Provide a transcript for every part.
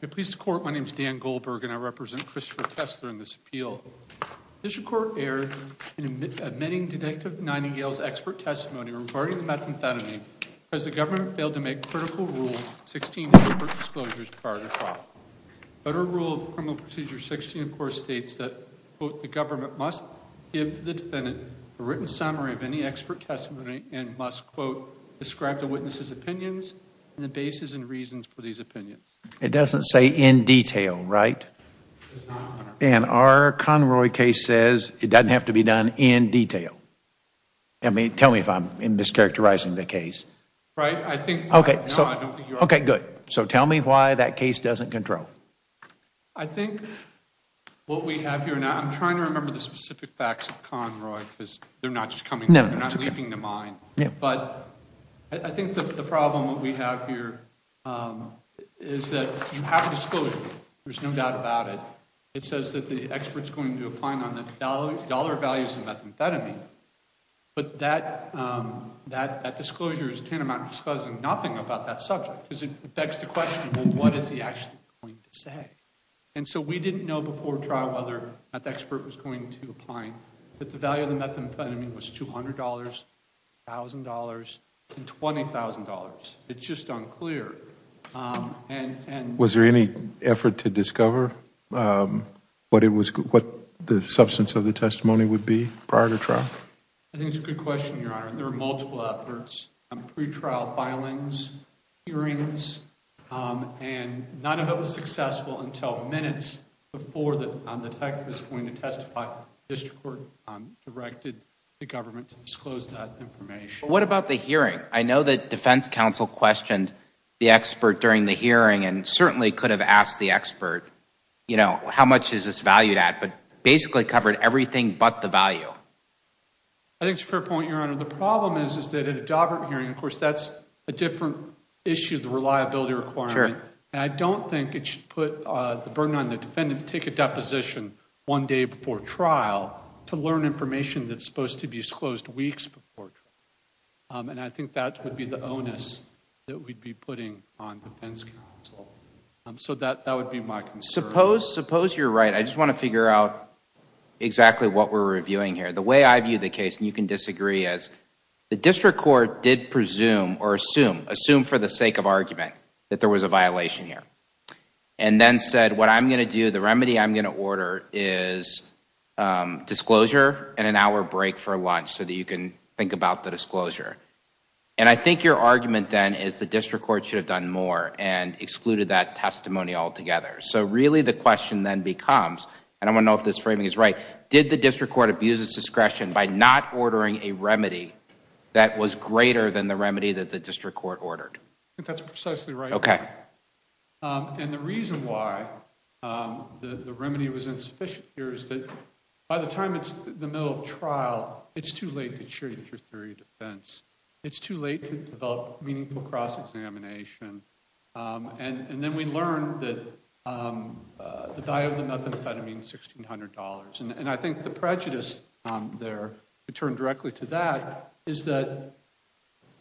In this appeal, the District Court erred in admitting Detective Niningale's expert testimony regarding the methamphetamine because the government failed to make critical Rule 16 of the court disclosures prior to trial. Federal Rule of Criminal Procedure 16, of course, states that, quote, the government must give to the defendant a written summary of any expert testimony and must, quote, describe the witness's opinions and the basis and reasons for these opinions. It doesn't say in detail, right? And our Conroy case says it doesn't have to be done in detail. I mean, tell me if I'm mischaracterizing the case. Right? I think... Okay, so... No, I don't think you are. Okay, good. So tell me why that case doesn't control. I think what we have here now, I'm trying to remember the specific facts of Conroy because they're not just coming... No, that's okay. They're not leaping to mind. Yeah. But I think that the problem that we have here is that you have a disclosure. There's no doubt about it. It says that the expert's going to opine on the dollar values of methamphetamine. But that disclosure is tantamount to disclosing nothing about that subject because it begs the question, well, what is he actually going to say? And so we didn't know before trial whether that expert was going to opine that the value of the methamphetamine was $200, $1,000, and $20,000. It's just unclear. Was there any effort to discover what the substance of the testimony would be prior to trial? I think it's a good question, Your Honor. There were multiple efforts, pre-trial filings, hearings, and none of it was successful until minutes before the tech was going to testify. The district court directed the government to disclose that information. What about the hearing? I know that defense counsel questioned the expert during the hearing and certainly could have asked the expert, you know, how much is this valued at? But basically covered everything but the value. I think it's a fair point, Your Honor. The problem is that at a Dobbert hearing, of course, that's a different issue, the reliability requirement. Sure. And I don't think it should put the burden on the defendant to take a deposition one day before trial to learn information that's supposed to be disclosed weeks before trial. And I think that would be the onus that we'd be putting on defense counsel. So that would be my concern. Suppose you're right. I just want to figure out exactly what we're reviewing here. The way I view the case, and you can disagree, is the district court did presume or assume for the sake of argument that there was a violation here. And then said what I'm going to do, the remedy I'm going to order is disclosure and an hour break for lunch so that you can think about the disclosure. And I think your argument then is the district court should have done more and excluded that testimony altogether. So really the question then becomes, and I don't know if this framing is right, did the district court abuse its discretion by not ordering a remedy that was greater than the remedy that was ordered? I think that's precisely right. Okay. And the reason why the remedy was insufficient here is that by the time it's the middle of trial, it's too late to change your theory of defense. It's too late to develop meaningful cross-examination. And then we learn that the value of the methamphetamine is $1,600. And I think the prejudice there, to turn directly to that, is that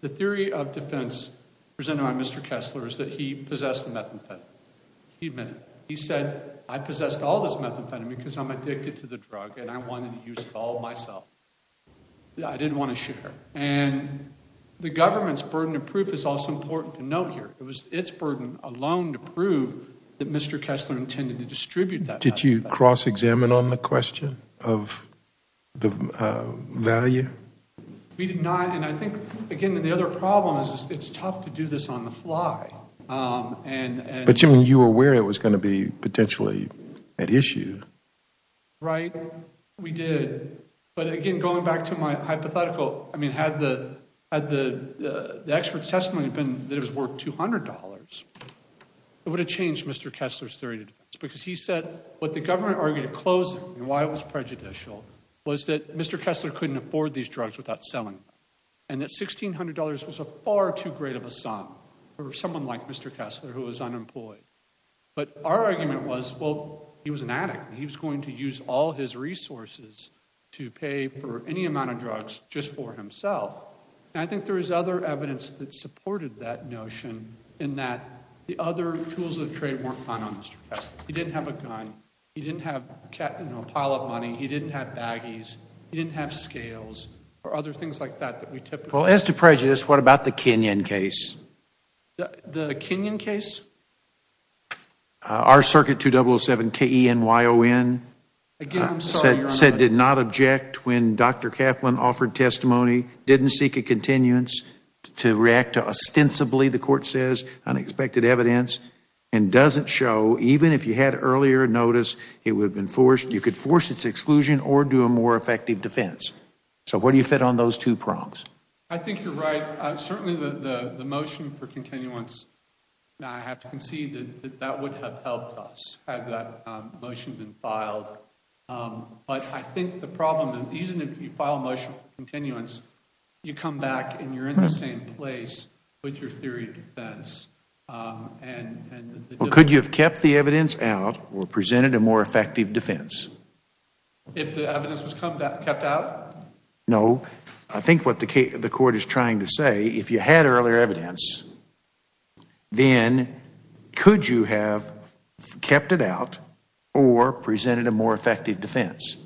the theory of defense presented by Mr. Kessler is that he possessed the methamphetamine. He admitted it. He said, I possessed all this methamphetamine because I'm addicted to the drug and I wanted to use it all myself. I didn't want to share. And the government's burden of proof is also important to note here. It was its burden alone to prove that Mr. Kessler intended to distribute that methamphetamine. Did you cross-examine on the question of the value? We did not. And I think, again, the other problem is it's tough to do this on the fly. But you were aware it was going to be potentially at issue. Right. We did. But, again, going back to my hypothetical, I mean, had the expert's testimony been that it was worth $200, it would have changed Mr. Kessler's theory of defense. Because he said what the government argued at closing and why it was prejudicial was that Mr. Kessler couldn't afford these drugs without selling them. And that $1,600 was a far too great of a sum for someone like Mr. Kessler who was unemployed. But our argument was, well, he was an addict and he was going to use all his resources to pay for any amount of drugs just for himself. And I think there is other evidence that supported that notion in that the other tools of trade weren't found on Mr. Kessler. He didn't have a gun. He didn't have a pile of money. He didn't have baggies. He didn't have scales or other things like that that we typically see. Well, as to prejudice, what about the Kenyon case? The Kenyon case? Our circuit 2007 KENYON said did not object when Dr. Kaplan offered testimony, didn't seek a continuance to react to ostensibly, the court says, unexpected evidence, and doesn't show, even if you had earlier notice, it would have been forced, you could force its exclusion or do a more effective defense. So where do you fit on those two prongs? I think you're right. Certainly the motion for continuance, I have to concede that that would have helped us had that motion been filed. But I think the problem is even if you file a motion for continuance, you come back and you're in the same place with your theory of defense. Well, could you have kept the evidence out or presented a more effective defense? If the evidence was kept out? No. I think what the court is trying to say, if you had earlier evidence, then could you have kept it out or presented a more effective defense?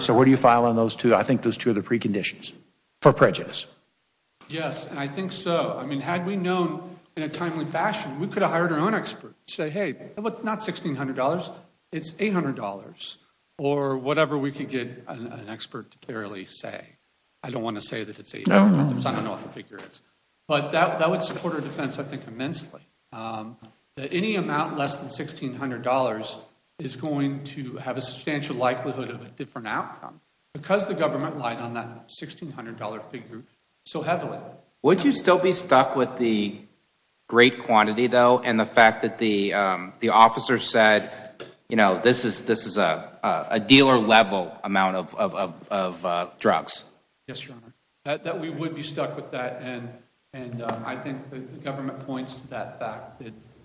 So where do you file on those two? I think those two are the preconditions for prejudice. Yes. And I think so. I mean, had we known in a timely fashion, we could have hired our own expert to say, hey, it's not $1,600, it's $800 or whatever we could get an expert to clearly say. I don't want to say that it's $800, I don't know what the figure is. But that would support our defense, I think, immensely. Any amount less than $1,600 is going to have a substantial likelihood of a different outcome because the government lied on that $1,600 figure so heavily. Would you still be stuck with the great quantity, though, and the fact that the officer said, you know, this is a dealer-level amount of drugs? Yes, Your Honor. That we would be stuck with that. And I think the government points to that fact.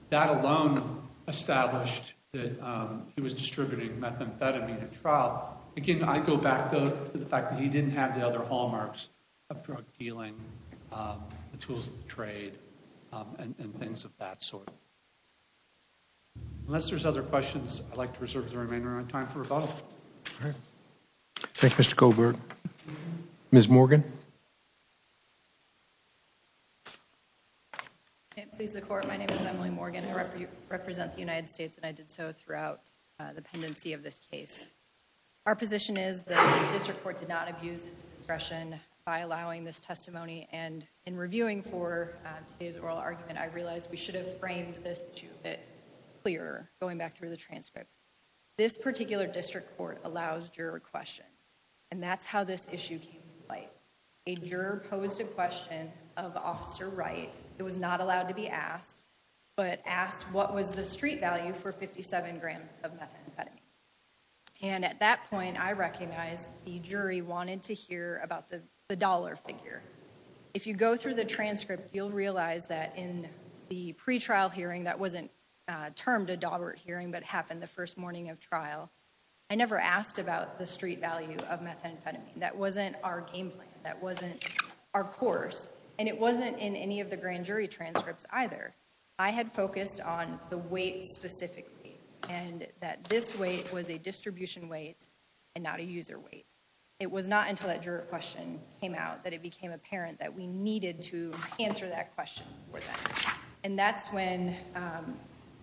That alone established that he was distributing methamphetamine at trial. Again, I go back, though, to the fact that he didn't have the other hallmarks of drug dealing, the tools of the trade, and things of that sort. Unless there's other questions, I'd like to reserve the remainder of my time for rebuttal. All right. Thank you, Mr. Colbert. Ms. Morgan? May it please the Court, my name is Emily Morgan. I represent the United States, and I did so throughout the pendency of this case. Our position is that the district court did not abuse its discretion by allowing this testimony, and in reviewing for today's oral argument, I realized we should have framed this issue a bit clearer, going back through the transcript. This particular district court allows juror question, and that's how this issue came to light. A juror posed a question of Officer Wright that was not allowed to be asked, but asked what was the street value for 57 grams of methamphetamine? And at that point, I recognized the jury wanted to hear about the dollar figure. If you go through the transcript, you'll realize that in the pre-trial hearing that wasn't termed a dollar hearing, but happened the first morning of trial, I never asked about the street value of methamphetamine. That wasn't our game plan. That wasn't our course. And it wasn't in any of the grand jury transcripts, either. I had focused on the weight specifically, and that this weight was a distribution weight and not a user weight. It was not until that juror question came out that it became apparent that we needed to answer that question for them. And that's when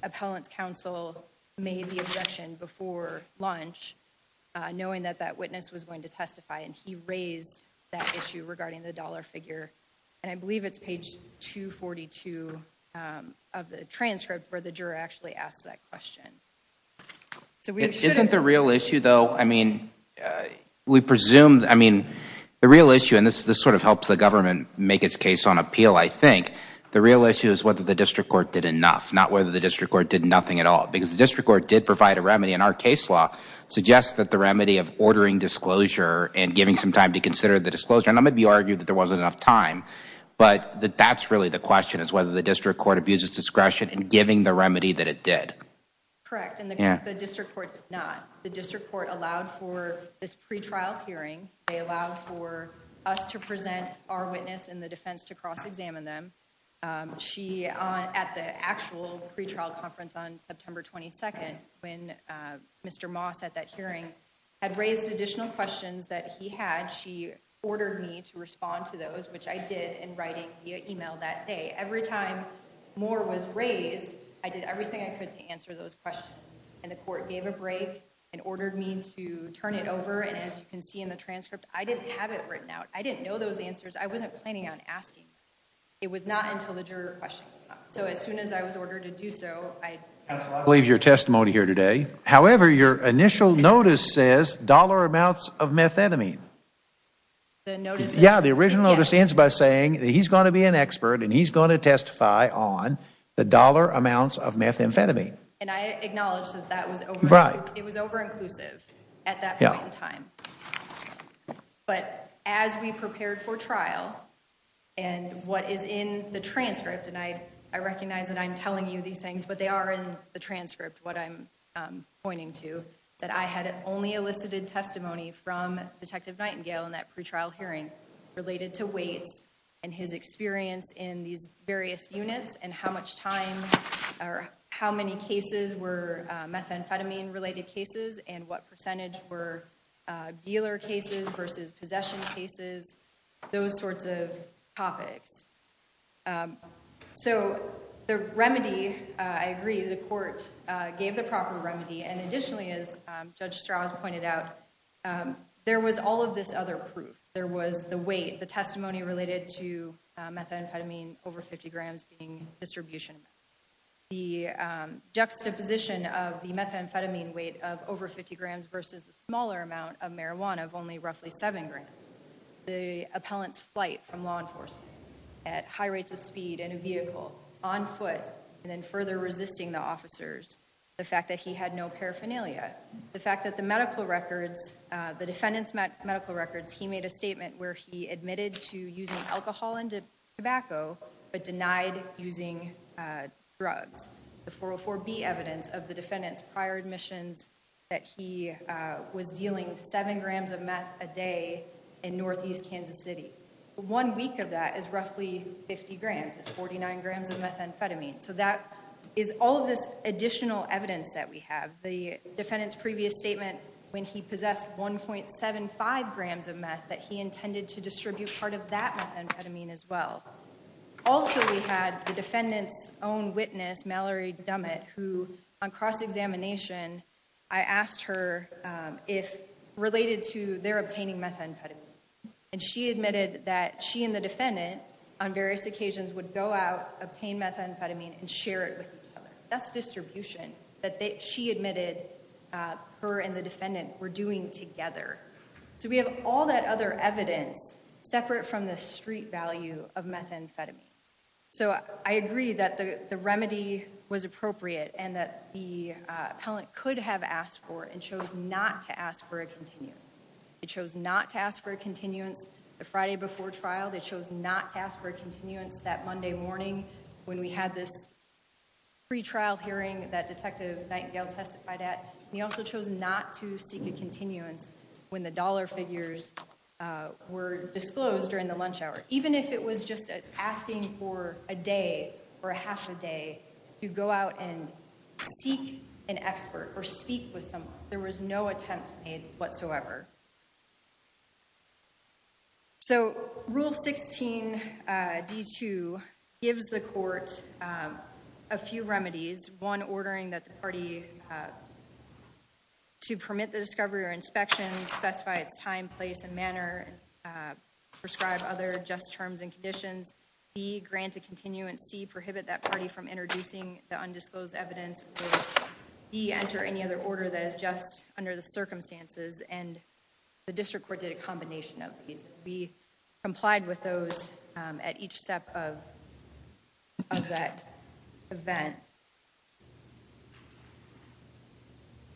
appellant's counsel made the objection before lunch, knowing that that witness was going to testify, and he raised that issue regarding the dollar figure. And I believe it's page 242 of the transcript where the juror actually asked that question. Isn't the real issue, though, I mean, we presume, I mean, the real issue, and this sort of helps the government make its case on appeal, I think, the real issue is whether the district court did enough, not whether the district court did nothing at all. Because the district court did provide a remedy, and our case law suggests that the remedy of ordering disclosure and giving some time to consider the disclosure, and I'm going to argue that there wasn't enough time. But that's really the question, is whether the district court abuses discretion in giving the remedy that it did. Correct, and the district court did not. The district court allowed for this pretrial hearing. They allowed for us to present our witness in the defense to cross-examine them. She, at the actual pretrial conference on September 22nd, when Mr. Moss at that hearing had raised additional questions that he had, she ordered me to respond to those, which I did in writing via email that day. Every time more was raised, I did everything I could to answer those questions. And the court gave a break and ordered me to turn it over, and as you can see in the transcript, I didn't have it written out. I didn't know those answers. I wasn't planning on asking. It was not until the juror questioned me. So as soon as I was ordered to do so, I... Counsel, I believe your testimony here today. However, your initial notice says dollar amounts of methamphetamine. The notice... Yeah, the original notice ends by saying that he's going to be an expert and he's going to testify on the dollar amounts of methamphetamine. And I acknowledge that that was over... Right. It was over-inclusive at that point in time. But as we prepared for trial, and what is in the transcript, and I recognize that I'm pointing to, that I had only elicited testimony from Detective Nightingale in that pre-trial hearing related to weights and his experience in these various units and how much time or how many cases were methamphetamine-related cases and what percentage were dealer cases versus possession cases, those sorts of topics. So the remedy, I agree, the court gave the proper remedy. And additionally, as Judge Strauss pointed out, there was all of this other proof. There was the weight, the testimony related to methamphetamine over 50 grams being distribution. The juxtaposition of the methamphetamine weight of over 50 grams versus the smaller amount of marijuana of only roughly 7 grams. The appellant's flight from law enforcement at high rates of speed in a vehicle, on foot, and then further resisting the officers. The fact that he had no paraphernalia. The fact that the medical records, the defendant's medical records, he made a statement where he admitted to using alcohol and tobacco but denied using drugs. The 404B evidence of the defendant's prior admissions that he was dealing 7 grams of meth a day in northeast Kansas City. One week of that is roughly 50 grams. It's 49 grams of methamphetamine. So that is all of this additional evidence that we have. The defendant's previous statement when he possessed 1.75 grams of meth that he intended to distribute part of that methamphetamine as well. Also, we had the defendant's own witness, Mallory Dummett, who on cross-examination, I asked her if related to their obtaining methamphetamine. And she admitted that she and the defendant on various occasions would go out, obtain methamphetamine, and share it with each other. That's distribution that she admitted her and the defendant were doing together. So we have all that other evidence separate from the street value of methamphetamine. So I agree that the remedy was appropriate and that the appellant could have asked for and chose not to ask for a continuance. He chose not to ask for a continuance the Friday before trial. They chose not to ask for a continuance that Monday morning when we had this pre-trial hearing that Detective Nightingale testified at. He also chose not to seek a continuance when the dollar figures were disclosed during the lunch hour. Even if it was just asking for a day or half a day to go out and seek an expert or speak with someone, there was no attempt made whatsoever. So Rule 16 D2 gives the court a few remedies. One, ordering that the party to permit the discovery or inspection, specify its time, place, and manner, prescribe other just terms and conditions. B, grant a continuance. C, prohibit that party from introducing the undisclosed evidence. D, enter any other order that is just under the circumstances. And the district court did a combination of these. We complied with those at each step of that event.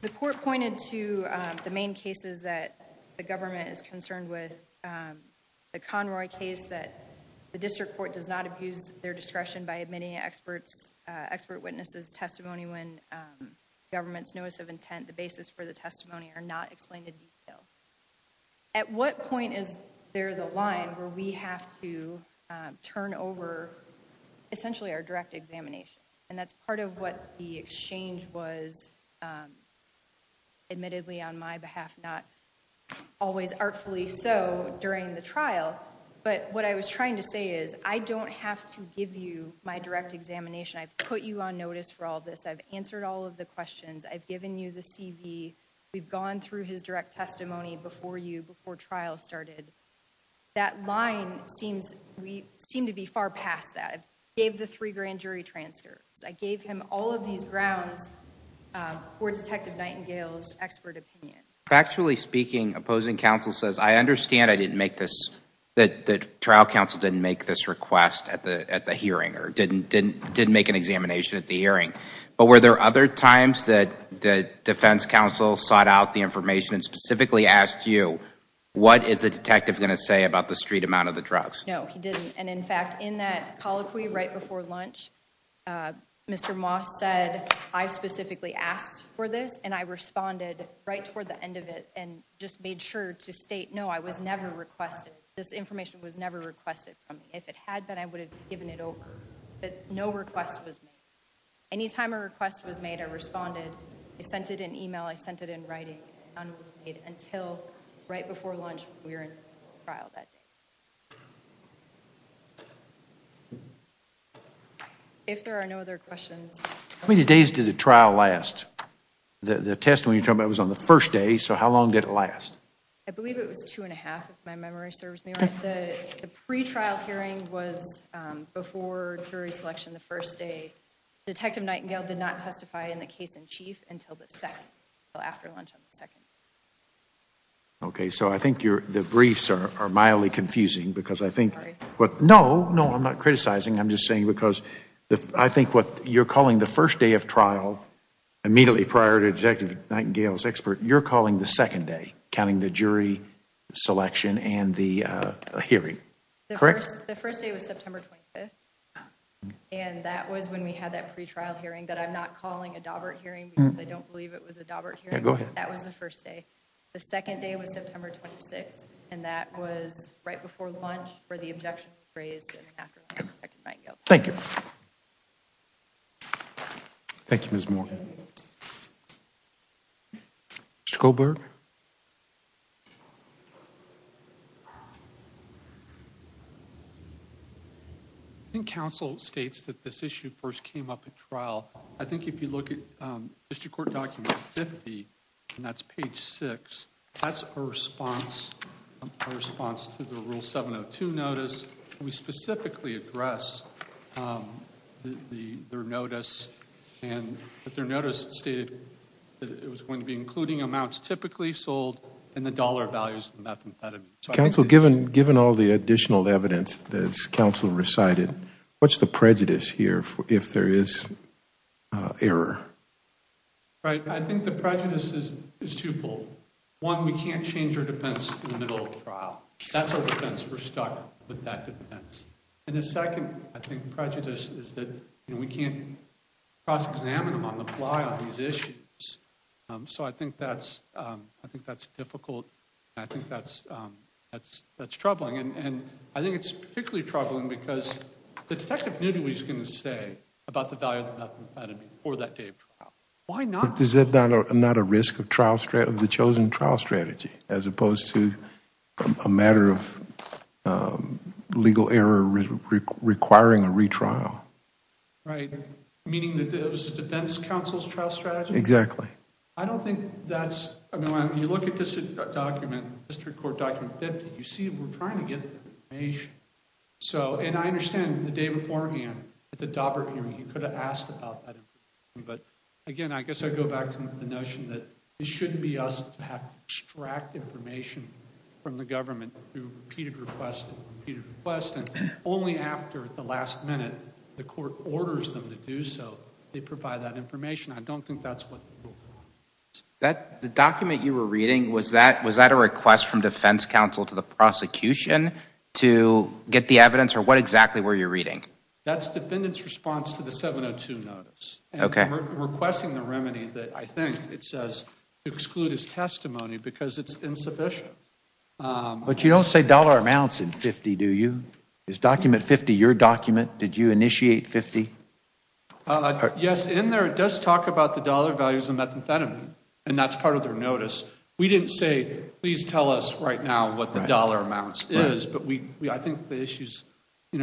The court pointed to the main cases that the government is concerned with. The Conroy case that the district court does not abuse their discretion by admitting expert witnesses' testimony when the government's notice of intent, the basis for the testimony, are not explained in detail. At what point is there the line where we have to turn over, essentially, our direct examination? And that's part of what the exchange was, admittedly on my behalf, not always artfully so during the trial. But what I was trying to say is, I don't have to give you my direct examination. I've put you on notice for all this. I've answered all of the questions. I've given you the CV. We've gone through his direct testimony before you, before trial started. That line seems to be far past that. I gave the three grand jury transfers. I gave him all of these grounds for Detective Nightingale's expert opinion. Factually speaking, opposing counsel says, I understand I didn't make this, that trial hearing. But were there other times that the defense counsel sought out the information and specifically asked you, what is the detective going to say about the street amount of the drugs? No, he didn't. And in fact, in that colloquy right before lunch, Mr. Moss said, I specifically asked for this. And I responded right toward the end of it and just made sure to state, no, I was never requested. This information was never requested. If it had been, I would have given it over. But no request was made. Any time a request was made, I responded. I sent it in email. I sent it in writing. None was made until right before lunch. We were in trial that day. If there are no other questions. How many days did the trial last? The testimony you're talking about was on the first day. So how long did it last? I believe it was two and a half, if my memory serves me right. The pre-trial hearing was before jury selection the first day. Detective Nightingale did not testify in the case in chief until the second, after lunch on the second. OK, so I think the briefs are mildly confusing. No, I'm not criticizing. I'm just saying because I think what you're calling the first day of trial, immediately prior to Detective Nightingale's expert, you're calling the second day, counting the jury selection and the hearing. Correct? The first day was September 25th. And that was when we had that pre-trial hearing. But I'm not calling a Daubert hearing because I don't believe it was a Daubert hearing. That was the first day. The second day was September 26th. And that was right before lunch, where the objection was raised after Detective Nightingale testified. Thank you. Thank you, Ms. Morgan. Mr. Goldberg? I think counsel states that this issue first came up at trial. I think if you look at district court document 50, and that's page 6, that's a response to the rule 702 notice. We specifically address their notice. And their notice stated that it was going to be including amounts typically sold and the dollar values. Counsel, given all the additional evidence that counsel recited, what's the prejudice here if there is error? I think the prejudice is twofold. That's our defense. We're stuck with that defense. And the second, I think, prejudice is that we can't cross-examine them on the fly on these issues. So I think that's difficult. And I think that's troubling. And I think it's particularly troubling because the detective knew what he was going to say about the value of the methodology for that day of trial. Why not? Is that not a risk of the chosen trial strategy as opposed to a matter of legal error requiring a retrial? Right. Meaning that it was the defense counsel's trial strategy? Exactly. I don't think that's... I mean, when you look at this document, district court document 50, you see we're trying to get the information. And I understand the day beforehand at the Daubert hearing, he could have asked about that information. But again, I guess I go back to the notion that it shouldn't be us to have to extract information from the government through repeated requests and repeated requests. And only after the last minute, the court orders them to do so. They provide that information. I don't think that's what the rule requires. The document you were reading, was that a request from defense counsel to the prosecution to get the evidence? Or what exactly were you reading? That's the defendant's response to the 702 notice. Okay. Requesting the remedy that I think it says to exclude his testimony because it's insufficient. But you don't say dollar amounts in 50, do you? Is document 50 your document? Did you initiate 50? Yes, in there it does talk about the dollar values of methamphetamine. And that's part of their notice. We didn't say, please tell us right now what the dollar amounts is. But I think the issue is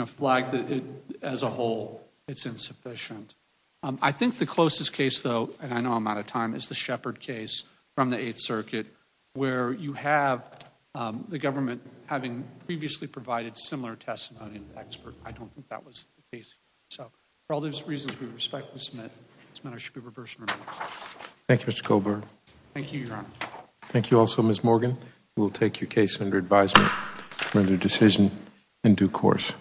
flagged as a whole. It's insufficient. I think the closest case, though, and I know I'm out of time, is the Shepard case from the Eighth Circuit where you have the government having previously provided similar testimony to the expert. I don't think that was the case. So for all those reasons, we respectfully submit this matter should be reversed and revised. Thank you, Mr. Colburn. Thank you, Your Honor. Thank you also, Ms. Morgan. We will take your case under advisement. To render decision in due course.